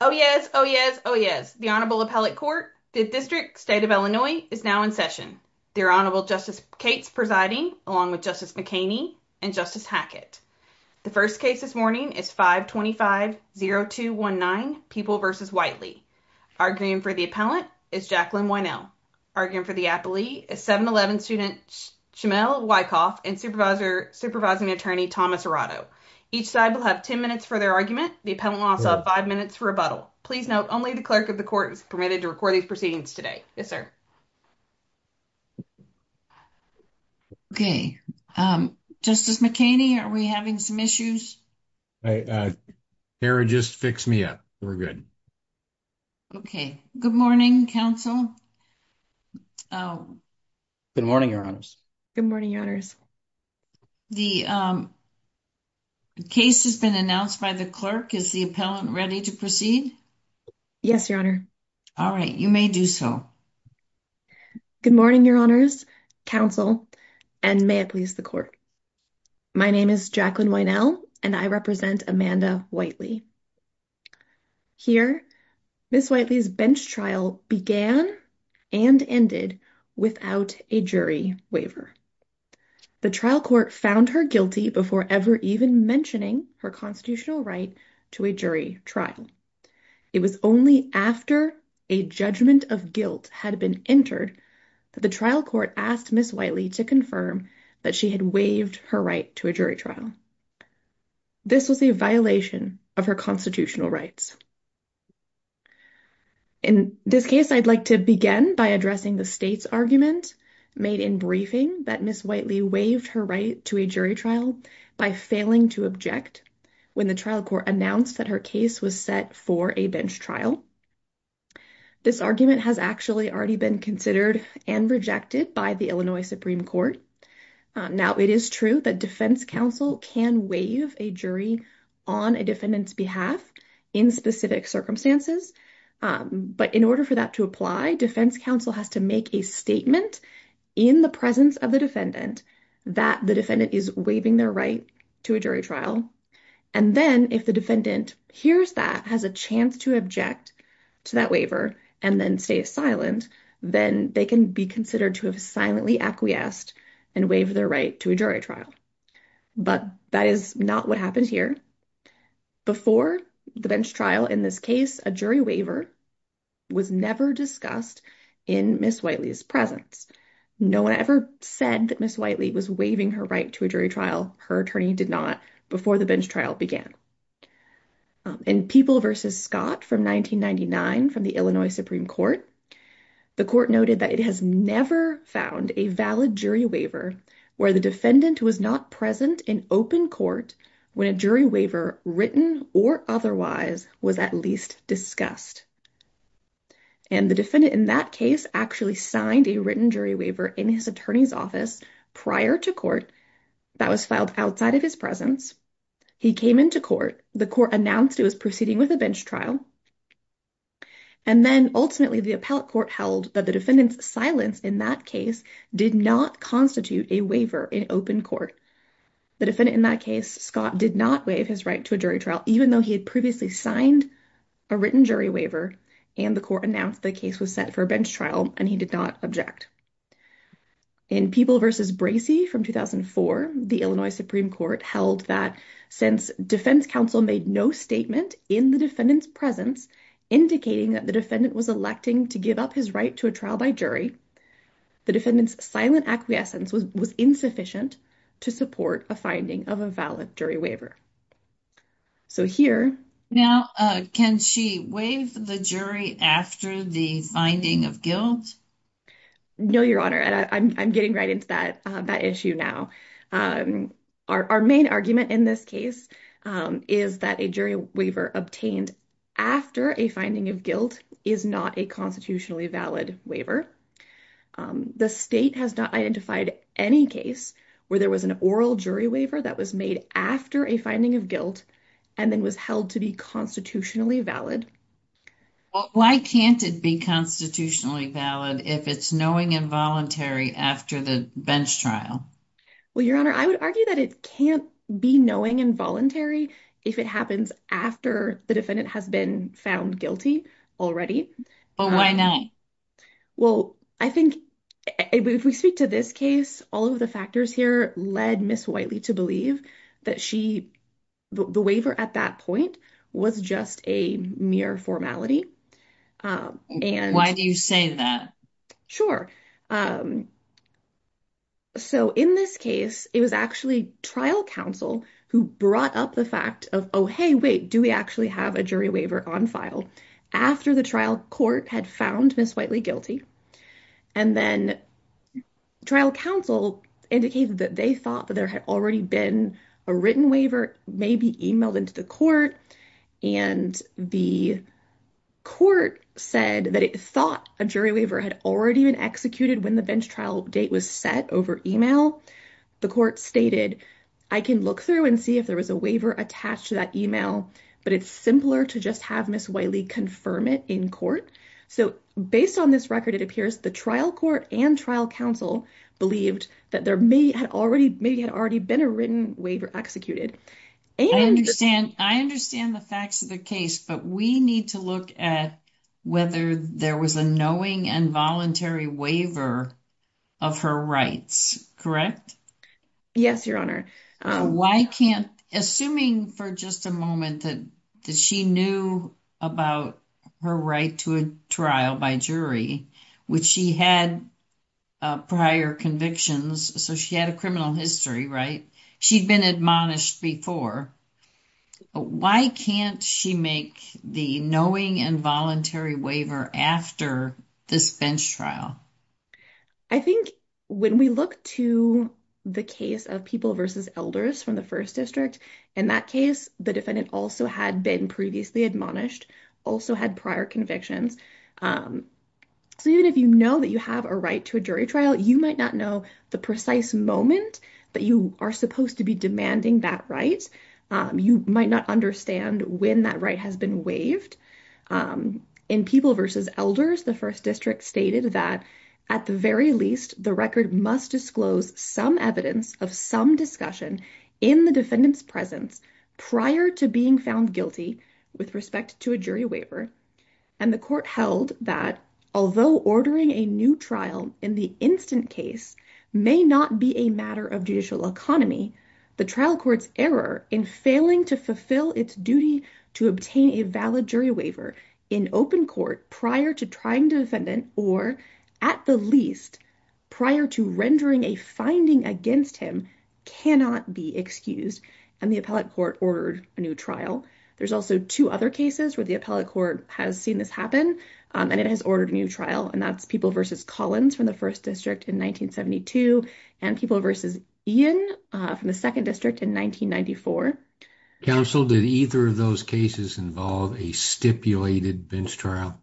Oh yes, oh yes, oh yes. The Honorable Appellate Court, the District, State of Illinois, is now in session. Their Honorable Justice Cates presiding, along with Justice McHaney and Justice Hackett. The first case this morning is 525-0219, People v. Whiteley. Arguing for the appellant is Jacqueline Wynell. Arguing for the appellee is 711 student Shamil Wyckoff and supervising attorney Thomas Arado. Each side will have 10 minutes for their argument. The appellant will also have five minutes for rebuttal. Please note, only the clerk of the court is permitted to record these proceedings today. Yes, sir. Okay, Justice McHaney, are we having some issues? Hara, just fix me up. We're good. Okay, good morning, counsel. Good morning, Your Honors. Good morning, Your Honors. The case has been announced by the clerk. Is the appellant ready to proceed? Yes, Your Honor. All right, you may do so. Good morning, Your Honors, counsel, and may it please the court. My name is Jacqueline Wynell, and I represent Amanda Whiteley. Here, Ms. Whiteley's bench trial began and ended without a jury waiver. The trial court found her guilty before ever even mentioning her constitutional right to a jury trial. It was only after a judgment of guilt had been entered that the trial court asked Ms. Whiteley to confirm that she had waived her right to a jury trial. This was a violation of her constitutional rights. In this case, I'd like to begin by addressing the state's argument made in briefing that Ms. Whiteley waived her right to a jury trial by failing to object when the trial court announced that her case was set for a bench trial. This argument has actually already been considered and rejected by the Illinois Supreme Court. Now, it is true that defense counsel can waive a jury on a defendant's behalf in specific circumstances, but in order for that to apply, defense counsel has to make a statement in the presence of the defendant that the defendant is waiving their right to a jury trial. And then, if the defendant hears that, has a chance to object to that waiver, and then stays silent, then they can be considered to have silently acquiesced and waive their right to a jury trial. But that is not what happens here. Before the bench trial in this case, a jury waiver was never discussed in Ms. Whiteley's presence. No one ever said that Ms. Whiteley was waiving her right to a jury trial. Her attorney did not before the bench trial began. In People v. Scott from 1999 from the Illinois Supreme Court, the court noted that it has never found a valid jury waiver where the defendant was not present in open court when a jury waiver, written or otherwise, was at least discussed. And the defendant in that case actually signed a written jury waiver in his attorney's office prior to court that was filed outside of his presence. He came into court. The court announced it was proceeding with a bench trial. And then, ultimately, the appellate court held that the defendant's silence in that case did not constitute a waiver in open court. The defendant in that case, Scott, did not waive his right to a jury trial, even though he had previously signed a written jury waiver and the court announced the case was set for a bench trial and he did not object. In People v. Bracey from 2004, the Illinois Supreme Court held that since defense counsel made no statement in the defendant's presence indicating that the defendant was electing to give up his right to a trial by jury, the defendant's silent acquiescence was insufficient to support a finding of a valid jury waiver. So here... Now, can she waive the jury after the finding of guilt? No, Your Honor. And I'm getting right into that issue now. Our main argument in this case is that a jury waiver obtained after a finding of guilt is not a constitutionally valid waiver. The state has not identified any case where there was an oral jury waiver that was made after a finding of guilt and then was held to be constitutionally valid. Well, why can't it be constitutionally valid if it's knowing involuntary after the bench trial? Well, Your Honor, I would argue that it can't be knowing involuntary if it happens after the defendant has been found guilty already. Well, why not? Well, I think if we speak to this case, all of the factors here led Ms. Whiteley to believe that the waiver at that point was just a mere formality. Why do you say that? Sure. So in this case, it was actually trial counsel who brought up the fact of, oh, hey, wait, do we actually have a jury waiver on file after the trial court had found Ms. Whiteley And then trial counsel indicated that they thought that there had already been a written waiver maybe emailed into the court. And the court said that it thought a jury waiver had already been executed when the bench trial date was set over email. The court stated, I can look through and see if there was a waiver attached to that email, but it's simpler to just have Ms. Whiteley confirm it in court. So based on this record, it appears the trial court and trial counsel believed that there may have already been a written waiver executed. I understand the facts of the case, but we need to look at whether there was a knowing involuntary waiver of her rights. Yes, Your Honor. Assuming for just a moment that she knew about her right to a trial by jury, which she had prior convictions, so she had a criminal history, right? She'd been admonished before. Why can't she make the knowing involuntary waiver after this bench trial? I think when we look to the case of People v. Elders from the First District, in that case, the defendant also had been previously admonished, also had prior convictions. So even if you know that you have a right to a jury trial, you might not know the precise moment that you are supposed to be demanding that right. You might not understand when that right has been waived. In People v. Elders, the First District stated that at the very least, the record must disclose some evidence of some discussion in the defendant's presence prior to being found guilty with respect to a jury waiver. And the court held that although ordering a new trial in the instant case may not be a matter of judicial economy, the trial court's error in failing to fulfill its duty to obtain a valid jury waiver in open court prior to trying the defendant or, at the least, prior to rendering a finding against him cannot be excused, and the appellate court ordered a new trial. There's also two other cases where the appellate court has seen this happen, and it has ordered a new trial, and that's People v. Collins from the First District in 1972 and People v. Ian from the Second District in 1994. Counsel, did either of those cases involve a stipulated bench trial?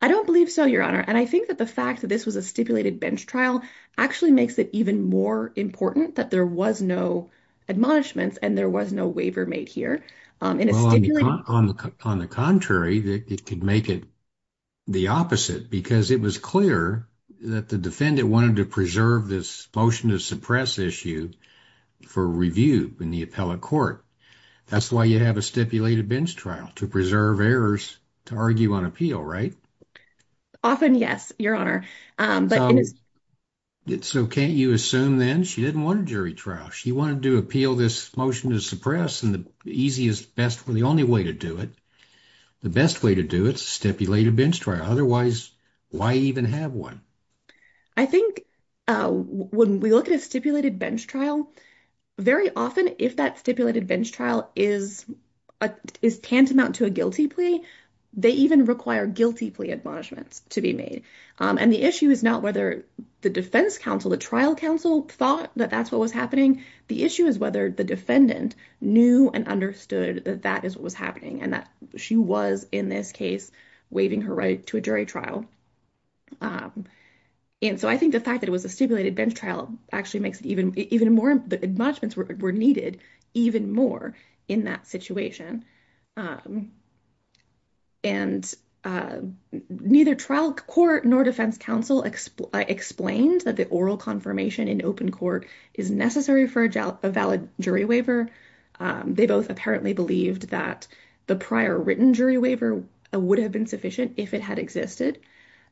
I don't believe so, Your Honor. And I think that the fact that this was a stipulated bench trial actually makes it even more important that there was no admonishments and there was no waiver made here. Well, on the contrary, it could make it the opposite, because it was clear that the defendant wanted to preserve this motion to suppress issue for review in the appellate court. That's why you have a stipulated bench trial, to preserve errors to argue on appeal, right? Often, yes, Your Honor. So can't you assume then she didn't want a jury trial? She wanted to appeal this motion to suppress, and the easiest, best, the only way to do it, the best way to do it is a stipulated bench trial. Otherwise, why even have one? I think when we look at a stipulated bench trial, very often if that stipulated bench trial is tantamount to a guilty plea, they even require guilty plea admonishments to be made. And the issue is not whether the defense counsel, the trial counsel, thought that that's what was happening. The issue is whether the defendant knew and understood that that is what was happening and that she was, in this case, waiving her right to a jury trial. And so I think the fact that it was a stipulated bench trial actually makes it even more, the admonishments were needed even more in that situation. And neither trial court nor defense counsel explained that the oral confirmation in open court is necessary for a valid jury waiver. They both apparently believed that the prior written jury waiver would have been sufficient if it had existed.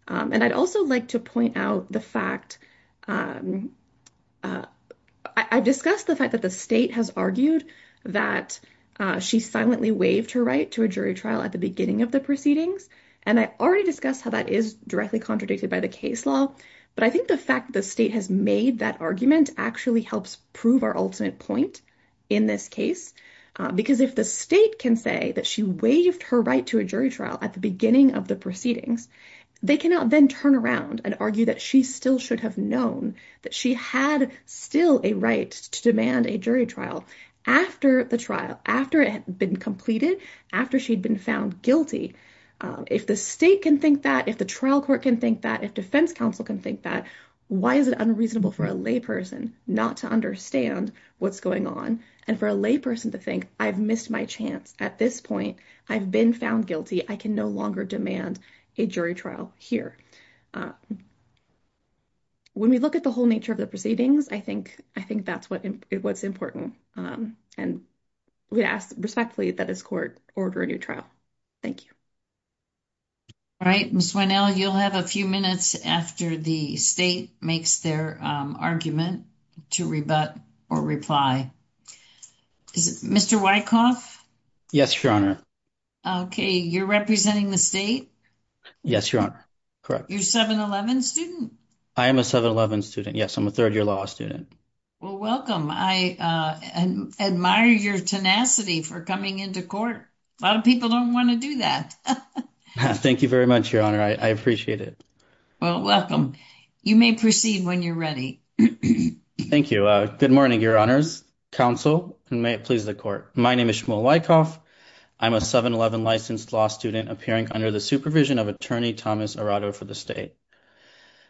And I'd also like to point out the fact, I discussed the fact that the state has argued that she silently waived her right to a jury trial at the beginning of the proceedings. And I already discussed how that is directly contradicted by the case law. But I think the fact the state has made that argument actually helps prove our ultimate point in this case. Because if the state can say that she waived her right to a jury trial at the beginning of the proceedings, they cannot then turn around and argue that she still should have known that she had still a right to demand a jury trial after the trial, after it had been completed, after she'd been found guilty. If the state can think that, if the trial court can think that, if defense counsel can think that, why is it unreasonable for a lay person not to understand what's going on and for a lay person to think, I've missed my chance at this point, I've been found guilty, I can no longer demand a jury trial here. When we look at the whole nature of the proceedings, I think that's what's important. And we ask respectfully that this court order a new trial. Thank you. All right, Ms. Winnell, you'll have a few minutes after the state makes their argument to rebut or reply. Mr. Wyckoff? Yes, Your Honor. Okay, you're representing the state? Yes, Your Honor. Correct. You're a 711 student? I am a 711 student, yes. I'm a third-year law student. Well, welcome. I admire your tenacity for coming into court. A lot of people don't want to do that. Thank you very much, Your Honor. I appreciate it. Well, welcome. You may proceed when you're ready. Thank you. Good morning, Your Honors, counsel, and may it please the court. My name is Shmuel Wyckoff. I'm a 711 licensed law student appearing under the supervision of Attorney Thomas Arado for the state.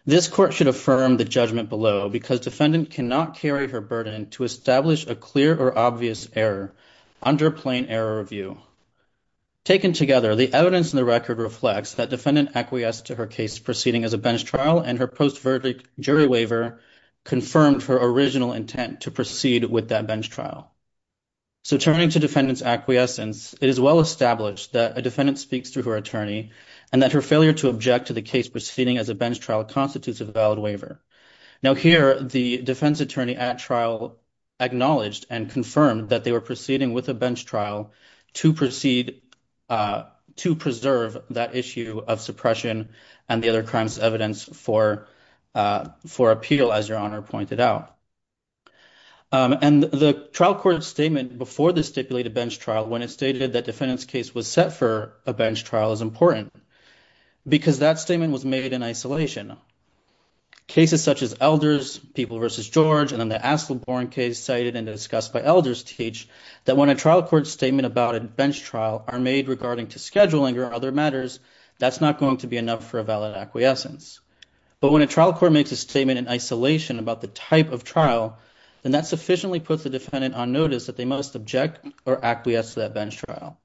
This court should affirm the judgment below because defendant cannot carry her burden to establish a clear or obvious error under plain error review. Taken together, the evidence in the record reflects that defendant acquiesced to her case proceeding as a bench trial and her post-verdict jury waiver confirmed her original intent to proceed with that bench trial. So turning to defendant's acquiescence, it is well established that a defendant speaks through her attorney and that her failure to object to the case proceeding as a bench trial constitutes a valid waiver. Now here, the defense attorney at trial acknowledged and confirmed that they were proceeding with a bench trial to preserve that issue of suppression and the other crimes evidence for appeal, as Your Honor pointed out. And the trial court's statement before the stipulated bench trial when it stated that defendant's case was set for a bench trial is important because that statement was made in isolation. Cases such as Elders, People v. George, and then the Asselborn case cited and discussed by Elders teach that when a trial court's statement about a bench trial are made regarding to scheduling or other matters, that's not going to be enough for a valid acquiescence. But when a trial court makes a statement in isolation about the type of trial, then that sufficiently puts the defendant on notice that they must object or acquiesce to that bench trial.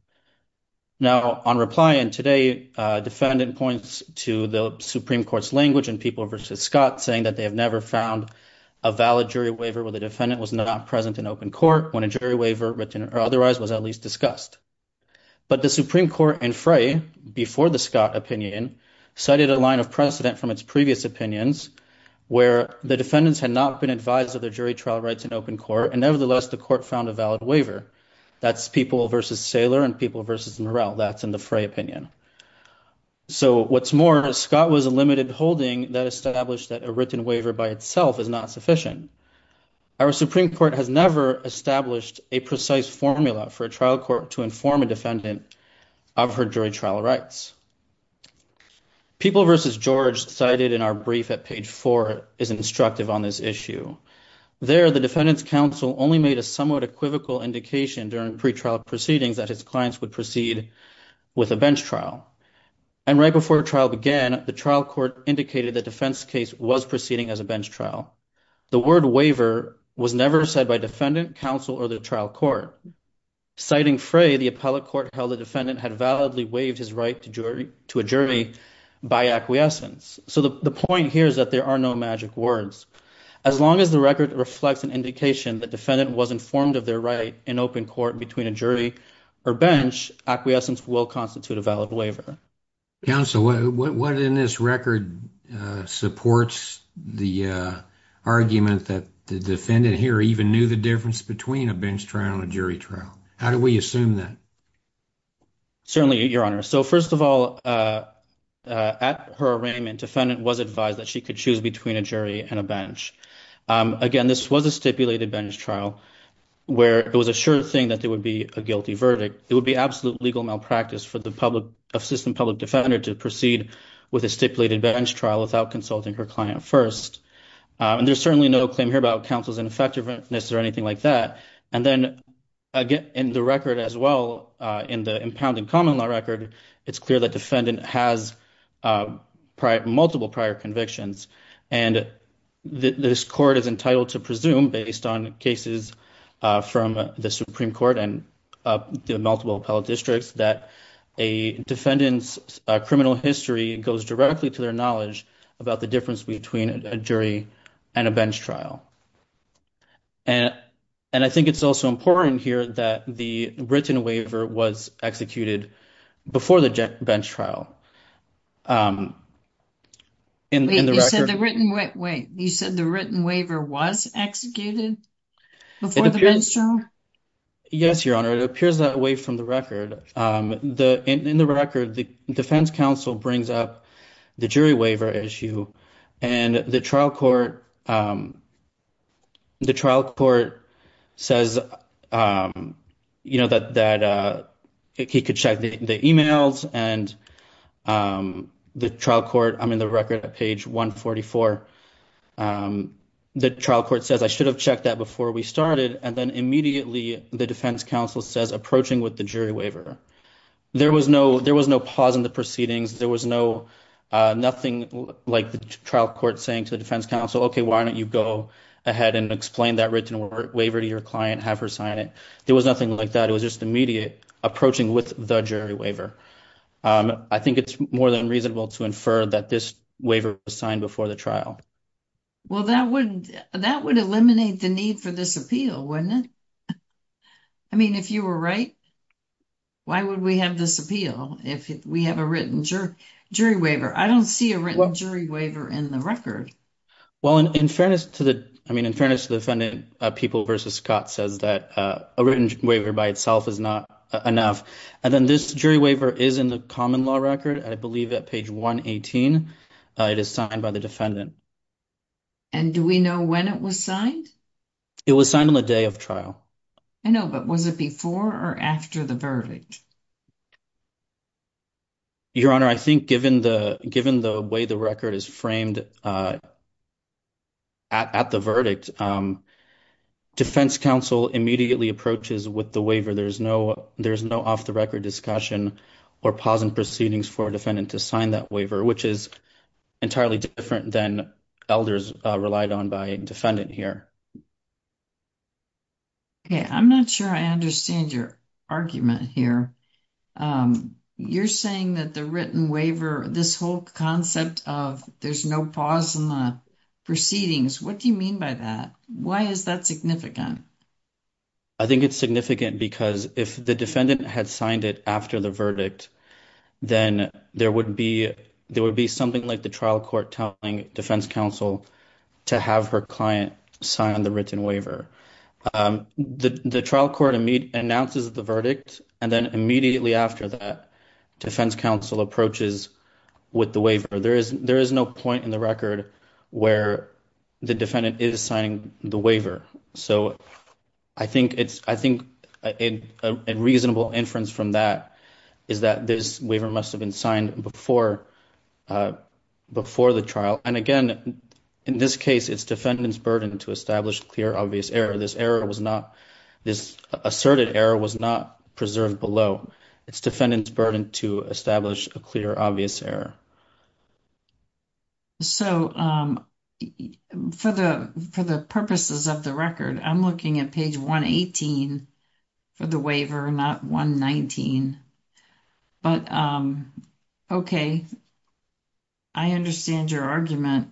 Now on reply in today, defendant points to the Supreme Court's language in People v. Scott saying that they have never found a valid jury waiver where the defendant was not present in open court when a jury waiver written or otherwise was at least discussed. But the Supreme Court in Frey, before the Scott opinion, cited a line of precedent from its previous opinions where the defendants had not been advised of their jury trial rights in open court, and nevertheless, the court found a valid waiver. That's People v. Saylor and People v. Murrell. That's in the Frey opinion. So what's more, Scott was a limited holding that established that a written waiver by itself is not sufficient. Our Supreme Court has never established a precise formula for a trial court to inform a defendant of her jury trial rights. People v. George cited in our brief at page four is instructive on this issue. There, the defendant's counsel only made a somewhat equivocal indication during pretrial proceedings that his clients would proceed with a bench trial. And right before trial began, the trial court indicated the defense case was proceeding as a bench trial. The word waiver was never said by defendant, counsel, or the trial court. Citing Frey, the appellate court held the defendant had validly waived his right to a jury by acquiescence. So the point here is that there are no magic words. As long as the record reflects an indication the defendant was informed of their right in open court between a jury or bench, acquiescence will constitute a valid waiver. Counsel, what in this record supports the argument that the defendant here even knew the difference between a bench trial and a jury trial? How do we assume that? Certainly, Your Honor. So first of all, at her arraignment, defendant was advised that she could choose between a jury and a bench. Again, this was a stipulated bench trial where it was assured that there would be a guilty verdict. It would be absolute legal malpractice for the assistant public defender to proceed with a stipulated bench trial without consulting her client first. And there's certainly no claim here about counsel's ineffectiveness or anything like that. And then, again, in the record as well, in the impounding common law record, it's clear that defendant has multiple prior convictions. And this court is entitled to presume, based on cases from the Supreme Court and the multiple appellate districts, that a defendant's criminal history goes directly to their knowledge about the difference between a jury and a bench trial. And I think it's also important here that the written waiver was executed before the bench trial. You said the written waiver was executed before the bench trial? Yes, Your Honor. It appears that way from the record. In the record, the defense counsel brings up the jury waiver issue, and the trial court says, you know, that he could check the emails, and the trial court, I mean, the record at page 144, the trial court says, I should have checked that before we started, and then immediately the defense counsel says, approaching with the jury waiver. There was no pause in the proceedings. There was nothing like the trial court saying to the defense counsel, okay, why don't you go ahead and explain that written waiver to your client, have her sign it. There was nothing like that. It was just immediate approaching with the jury waiver. I think it's more than reasonable to infer that this waiver was signed before the trial. Well, that would eliminate the need for this appeal, wouldn't it? I mean, if you were right, why would we have this appeal? If we have a written jury waiver. I don't see a written jury waiver in the record. Well, in fairness to the defendant, People v. Scott says that a written waiver by itself is not enough. And then this jury waiver is in the common law record. I believe at page 118, it is signed by the defendant. And do we know when it was signed? It was signed on the day of trial. I know, but was it before or after the verdict? Your Honor, I think given the way the record is framed at the verdict, defense counsel immediately approaches with the waiver. There's no off-the-record discussion or pause in proceedings for a defendant to sign that waiver, which is entirely different than elders relied on by a defendant here. Okay, I'm not sure I understand your argument here. You're saying that the written waiver, this whole concept of there's no pause in the proceedings, what do you mean by that? Why is that significant? I think it's significant because if the defendant had signed it after the verdict, then there would be something like the trial court telling defense counsel to have her client sign the written waiver. The trial court announces the verdict, and then immediately after that, defense counsel approaches with the waiver. There is no point in the record where the defendant is signing the waiver. So I think a reasonable inference from that is that this waiver must have been signed before the trial, and again, in this case, it's defendant's burden to establish clear, obvious error. This asserted error was not preserved below. It's defendant's burden to establish a clear, obvious error. So for the purposes of the record, I'm looking at page 118 for the waiver, not 119. But okay, I understand your argument.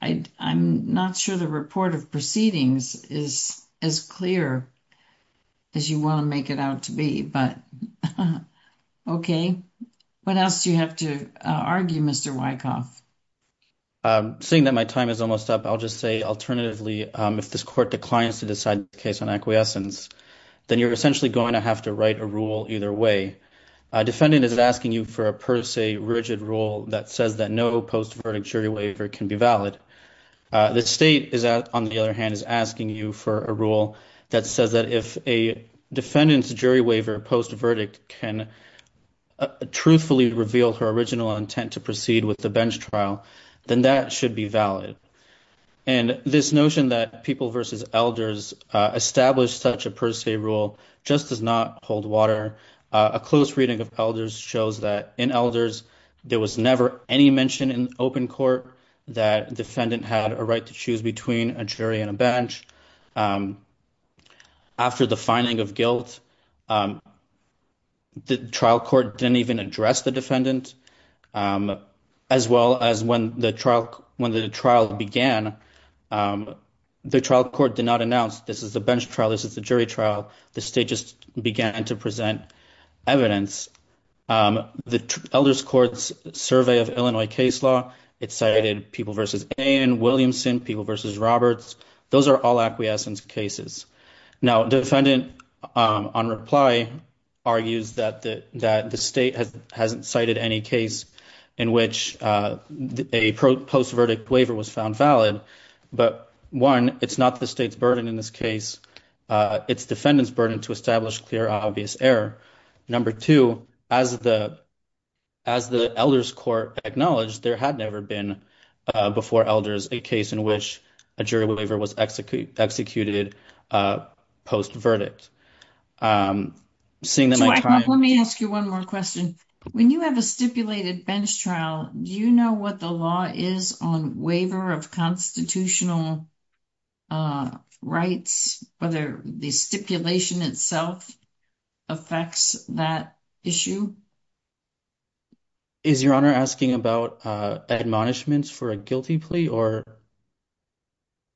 I'm not sure the report of proceedings is as clear as you want to make it out to be, but okay. What else do you have to argue, Mr. Wyckoff? Seeing that my time is almost up, I'll just say alternatively, if this court declines to decide the case on acquiescence, then you're essentially going to have to write a rule either way. A defendant is asking you for a per se rigid rule that says that no post verdict jury waiver can be valid. The state, on the other hand, is asking you for a rule that says that if a defendant's jury waiver post verdict can truthfully reveal her original intent to proceed with the bench trial, then that should be valid. And this notion that people versus elders establish such a per se rule just does not hold water. A close reading of elders shows that in elders, there was never any mention in open court that a defendant had a right to choose between a jury and a bench. After the finding of guilt, the trial court didn't even address the defendant, as well as when the trial began, the trial court did not announce this is a bench trial, this is a jury trial. The state just began to present evidence. The elders courts survey of Illinois case law, it cited people versus A.N. Williamson, people versus Roberts. Those are all acquiescence cases. Now, defendant on reply argues that the state hasn't cited any case in which a post verdict waiver was found valid. But one, it's not the state's burden in this case. It's defendant's burden to establish clear, obvious error. Number two, as the elders court acknowledged, there had never been before elders a case in which a jury waiver was executed post verdict. Let me ask you one more question. When you have a stipulated bench trial, do you know what the law is on waiver of constitutional rights, whether the stipulation itself affects that issue? Is your honor asking about admonishments for a guilty plea or?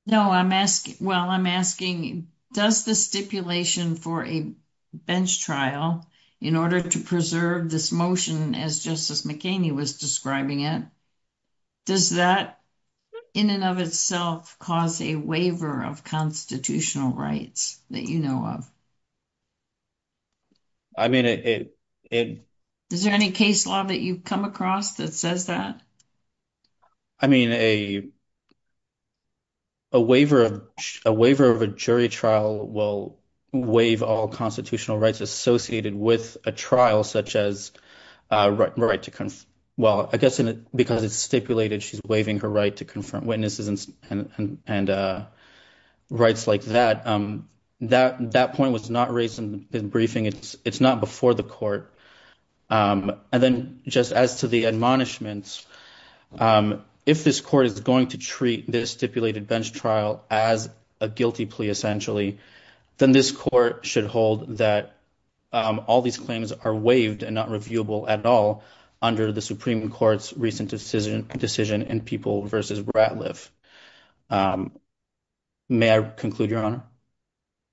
No, I'm asking, well, I'm asking, does the stipulation for a bench trial, in order to preserve this motion as justice McKinney was describing it, does that in and of itself cause a waiver of constitutional rights that you know of? I mean, it. Is there any case law that you've come across that says that? I mean, a. A waiver of a waiver of a jury trial will waive all constitutional rights associated with a trial such as right to. Well, I guess because it's stipulated, she's waiving her right to confront witnesses and rights like that. That that point was not raised in the briefing. It's not before the court. And then just as to the admonishments, if this court is going to treat this stipulated bench trial as a guilty plea, essentially, then this court should hold that all these claims are waived and not reviewable at all. Under the Supreme Court's recent decision decision and people versus Ratliff. May I conclude your honor?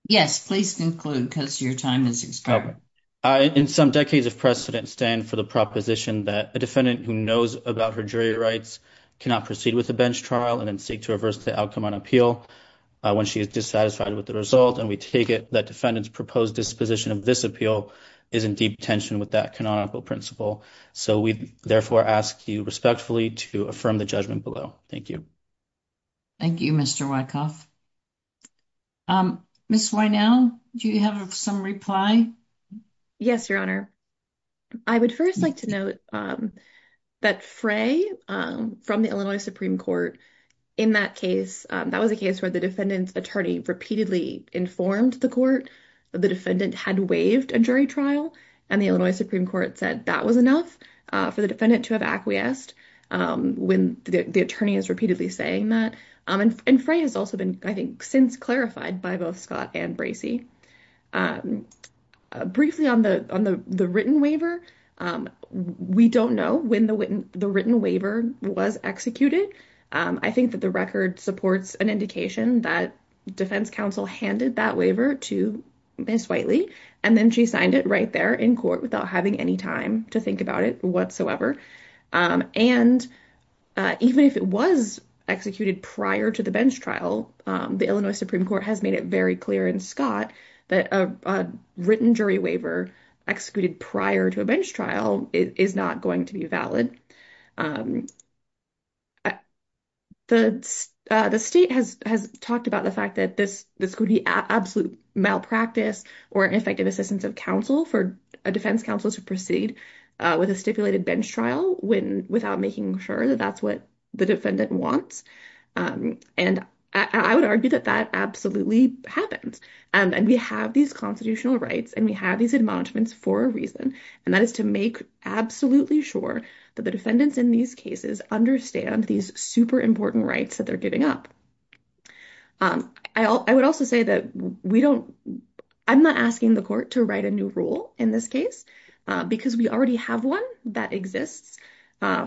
Yes, please conclude because your time is expired. I, in some decades of precedent, stand for the proposition that a defendant who knows about her jury rights, cannot proceed with a bench trial and then seek to reverse the outcome on when she is dissatisfied with the result. And we take it that defendants proposed disposition of this appeal is in deep tension with that canonical principle. So we therefore ask you respectfully to affirm the judgment below. Thank you. Thank you, Mr. Wyckoff. Ms. Why now do you have some reply? Yes, your honor. I would first like to note that fray from the Illinois Supreme court. In that case, that was a case where the defendant's attorney repeatedly informed the court. The defendant had waived a jury trial and the Illinois Supreme court said that was enough for the defendant to have acquiesced when the attorney is repeatedly saying that. And fray has also been, I think since clarified by both Scott and Bracey briefly on the, on the written waiver. We don't know when the written, the written waiver was executed. I think that the record supports an indication that defense counsel handed that waiver to Ms. and then she signed it right there in court without having any time to think about it whatsoever. And even if it was executed prior to the bench trial, the Illinois Supreme court has made it very clear in Scott that a written jury waiver executed prior to a bench trial is not going to be valid. The state has, has talked about the fact that this, this could be absolute malpractice or an effective assistance of counsel for a defense counsel to proceed with a stipulated bench trial when, without making sure that that's what the defendant wants. And I would argue that that absolutely happens. And we have these constitutional rights and we have these admonishments for a And that is to make absolutely sure that the defense counsel has the right to make sure that the defendants in these cases understand these super important rights that they're giving up. I would also say that we don't, I'm not asking the court to write a new rule in this case because we already have one that exists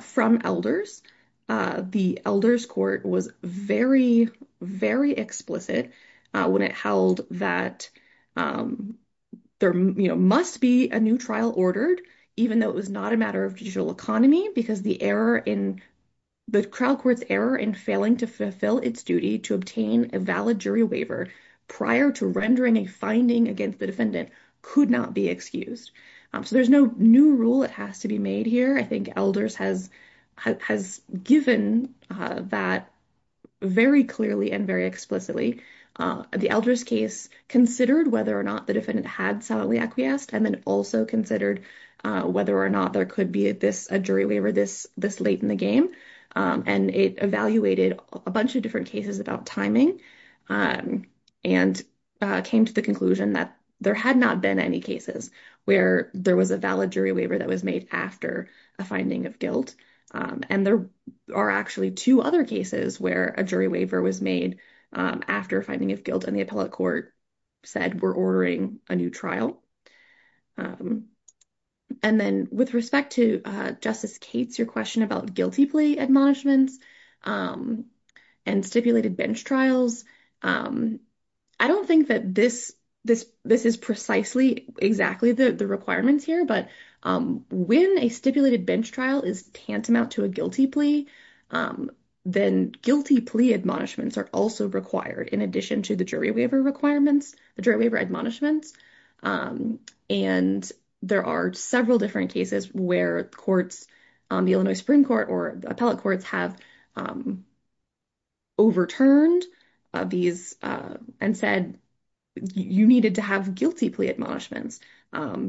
from elders. The elders court was very, very explicit when it held that there must be a new trial ordered, even though it was not a matter of digital economy, because the error in the crowd courts error in failing to fulfill its duty to obtain a valid jury waiver prior to rendering a finding against the defendant could not be excused. So there's no new rule. It has to be made here. I think elders has, has given that very clearly and very explicitly. The elders case considered whether or not the defendant had solemnly acquiesced and then also considered whether or not there could be this, a jury waiver this late in the game. And it evaluated a bunch of different cases about timing and came to the conclusion that there had not been any cases where there was a valid jury waiver that was made after a finding of guilt. And there are actually two other cases where a jury waiver was made after finding of guilt and the appellate court said, we're ordering a new trial. And then with respect to Justice Cates, your question about guilty plea admonishments and stipulated bench trials. I don't think that this, this, this is precisely exactly the requirements here, but when a stipulated bench trial is tantamount to a guilty plea, then guilty plea admonishments are also required in addition to the jury waiver requirements, the jury waiver admonishments. And there are several different cases where courts on the Illinois Supreme Court or appellate courts have overturned these and said, you needed to have guilty plea admonishments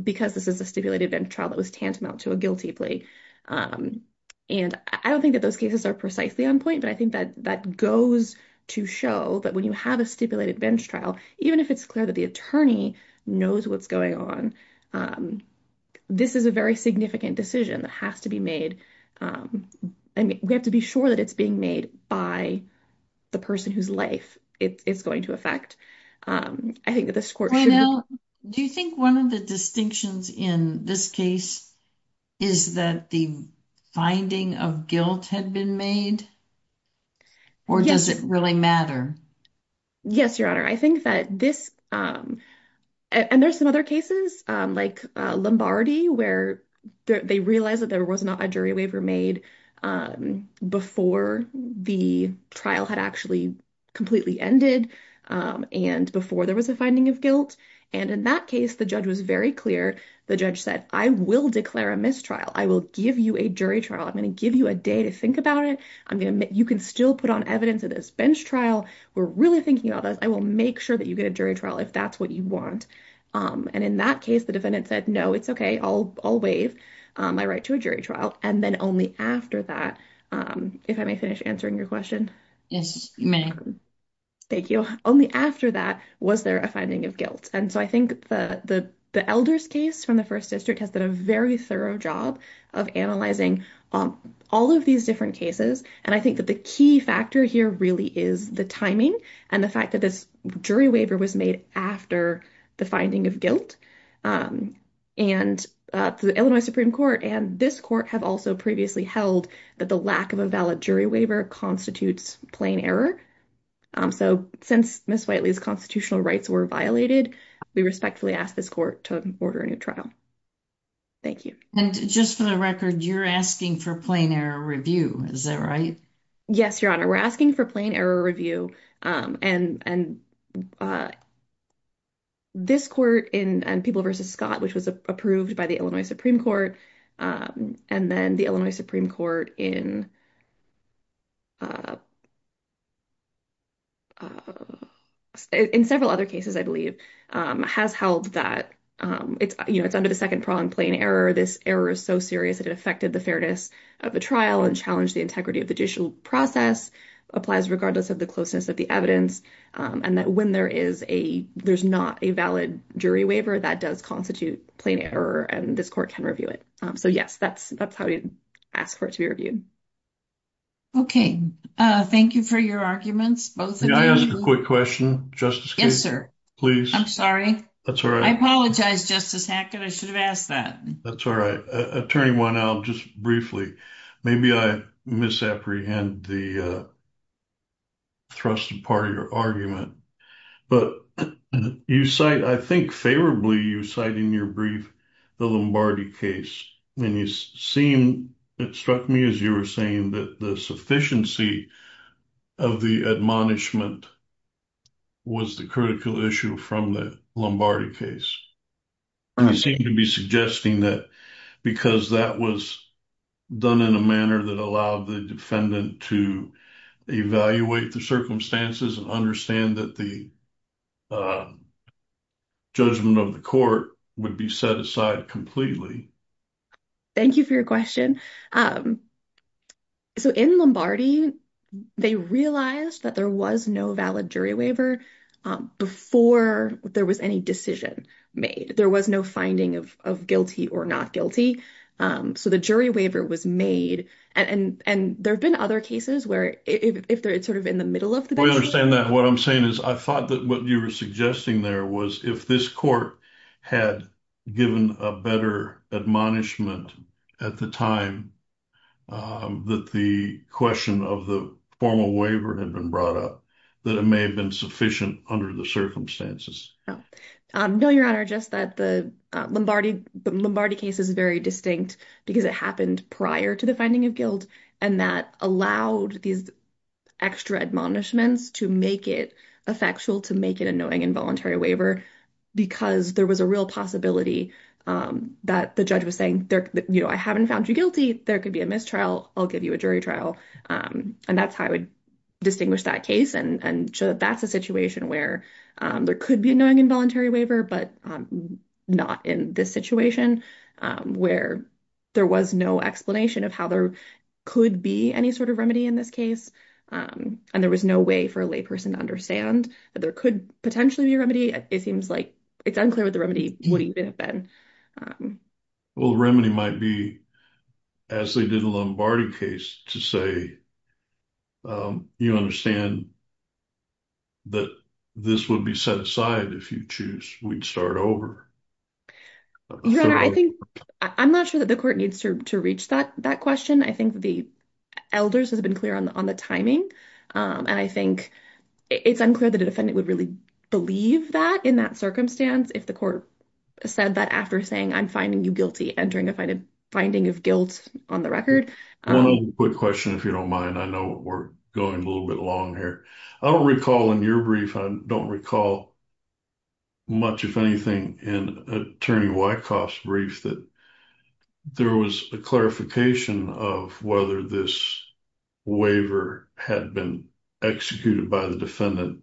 because this is a stipulated bench trial that was tantamount to a guilty plea. And I don't think that those cases are precisely on point, but I think that that goes to show that when you have a stipulated bench trial, even if it's clear that the attorney knows what's going on, this is a very significant decision that has to be made. And we have to be sure that it's being made by the person whose life it's going to affect. I think that this court should. Do you think one of the distinctions in this case is that the finding of guilt had been made or does it really matter? Yes, Your Honor. I think that this and there's some other cases like Lombardi where they realized that there was not a jury waiver made before the trial had actually completely ended and before there was a finding of guilt. And in that case, the judge was very clear. The judge said, I will declare a mistrial. I will give you a jury trial. I'm going to give you a day to think about it. I mean, you can still put on evidence of this bench trial. We're really thinking about this. I will make sure that you get a jury trial if that's what you want. And in that case, the defendant said, no, it's OK. I'll I'll waive my right to a jury trial. And then only after that, if I may finish answering your question. Yes, ma'am. Thank you. Only after that was there a finding of guilt. And so I think the elders case from the first district has done a very thorough job of analyzing all of these different cases. And I think that the key factor here really is the timing and the fact that this jury waiver was made after the finding of guilt. And the Illinois Supreme Court and this court have also previously held that the lack of a valid jury waiver constitutes plain error. So since Ms. Whiteley's constitutional rights were violated, we respectfully ask this court to order a new trial. Thank you. And just for the record, you're asking for plain error review. Is that right? Yes, your honor. We're asking for plain error review. And and. This court in people versus Scott, which was approved by the Illinois Supreme Court and then the Illinois Supreme Court in. In several other cases, I believe, has held that it's under the second prong plain error. This error is so serious that it affected the fairness of the trial and challenged the integrity of the judicial process applies regardless of the closeness of the evidence and that when there is a there's not a valid jury waiver that does constitute plain error and this court can review it. So, yes, that's that's how we ask for it to be reviewed. OK, thank you for your arguments. May I ask a quick question? Yes, sir. Please. I'm sorry. That's all right. I apologize. Justice Hackett, I should have asked that. That's all right. Attorney Winell, just briefly. Maybe I misapprehend the thrust part of your argument, but you cite, I think favorably, you cite in your brief, the Lombardi case and you seem it struck me as you were saying that the punishment was the critical issue from the Lombardi case. You seem to be suggesting that because that was done in a manner that allowed the defendant to evaluate the circumstances and understand that the judgment of the court would be set aside completely. Thank you for your question. So in Lombardi, they realized that there was no valid jury waiver before there was any decision made. There was no finding of guilty or not guilty. So the jury waiver was made. And there have been other cases where if they're sort of in the middle of the. We understand that what I'm saying is I thought that what you were suggesting there was if this court had given a better admonishment at the time, that the question of the formal waiver had been brought up, that it may have been sufficient under the circumstances. No, your honor, just that the Lombardi, the Lombardi case is very distinct because it happened prior to the finding of guilt and that allowed these extra admonishments to make it effectual, to make it a knowing involuntary waiver, because there was a real possibility that the judge was saying there, you know, I haven't found you guilty. There could be a mistrial. I'll give you a jury trial. And that's how I would distinguish that case. And so that's a situation where there could be a knowing involuntary waiver, but not in this situation where there was no explanation of how there could be any sort of remedy in this case. And there was no way for a lay person to understand that there could potentially be a remedy. It seems like it's unclear what the remedy would even have been. Well, the remedy might be as they did the Lombardi case to say, you understand that this would be set aside if you choose, we'd start over. Your honor, I think, I'm not sure that the court needs to reach that, that question. I think the elders has been clear on the, on the timing. And I think it's unclear that a defendant would really believe that in that after saying, I'm finding you guilty, entering a finding of guilt on the record. Quick question, if you don't mind, I know we're going a little bit long here. I don't recall in your brief, I don't recall much, if anything in attorney Wyckoff's brief, that there was a clarification of whether this waiver had been executed by the defendant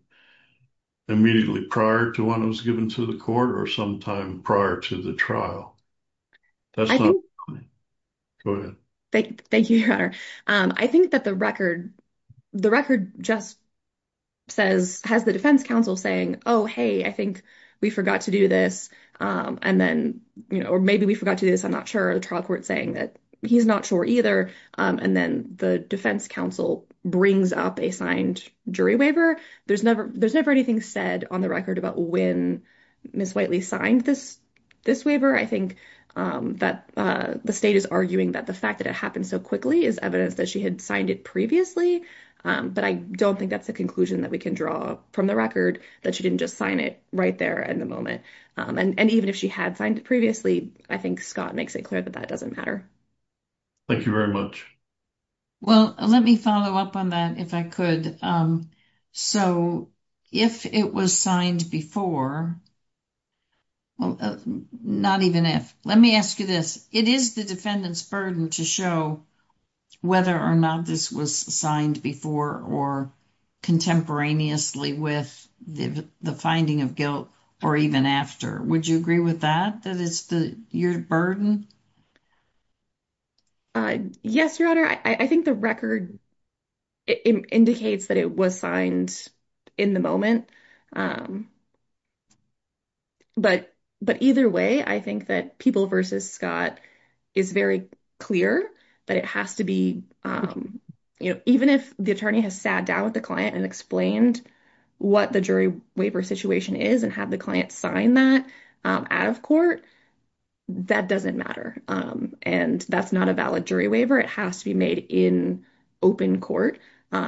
immediately prior to when it was given to the court or sometime prior to the trial. Go ahead. Thank you, your honor. I think that the record, the record just says has the defense council saying, Oh, Hey, I think we forgot to do this. And then, you know, or maybe we forgot to do this. I'm not sure. The trial court saying that he's not sure either. And then the defense council brings up a signed jury waiver. There's never, there's never anything said on the record about when Ms. Whiteley signed this, this waiver. I think that the state is arguing that the fact that it happened so quickly is evidence that she had signed it previously. But I don't think that's the conclusion that we can draw from the record that she didn't just sign it right there at the moment. And even if she had signed it previously, I think Scott makes it clear that that doesn't matter. Thank you very much. Well, let me follow up on that if I could. So if it was signed before, well, not even if, let me ask you this, it is the defendant's burden to show whether or not this was signed before or contemporaneously with the finding of guilt or even after, would you agree with that? That is the, your burden. Yes, your honor. I think the record indicates that it was signed in the moment. But, but either way, I think that people versus Scott is very clear that it has to be, you know, even if the attorney has sat down with the client and explained what the jury waiver situation is and have the client sign that out of court, that doesn't matter. And that's not a valid jury waiver. It has to be made in open court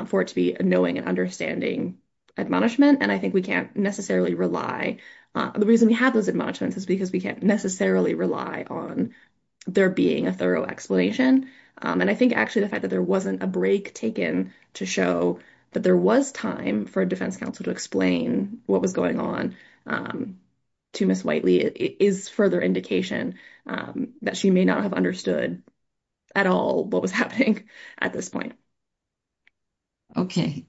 for it to be a knowing and understanding admonishment. And I think we can't necessarily rely. The reason we have those admonishments is because we can't necessarily rely on there being a thorough explanation. And I think actually the fact that there wasn't a break taken to show that there was time for a defense counsel to explain what was going on to Miss Whiteley is further indication that she may not have understood at all what was happening at this point. Okay.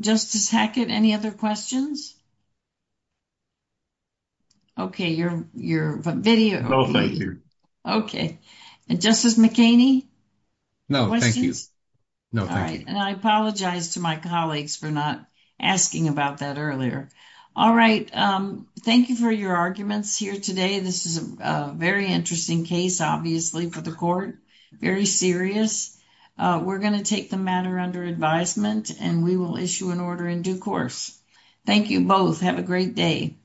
Justice Hackett, any other questions? Okay. Your, your video. Okay. And Justice McKinney? No, thank you. No, thank you. And I apologize to my colleagues for not asking about that earlier. All right. Thank you for your arguments here today. This is a very interesting case, obviously for the court, very serious. We're going to take the matter under advisement and we will issue an order in due course. Thank you both. Have a great day.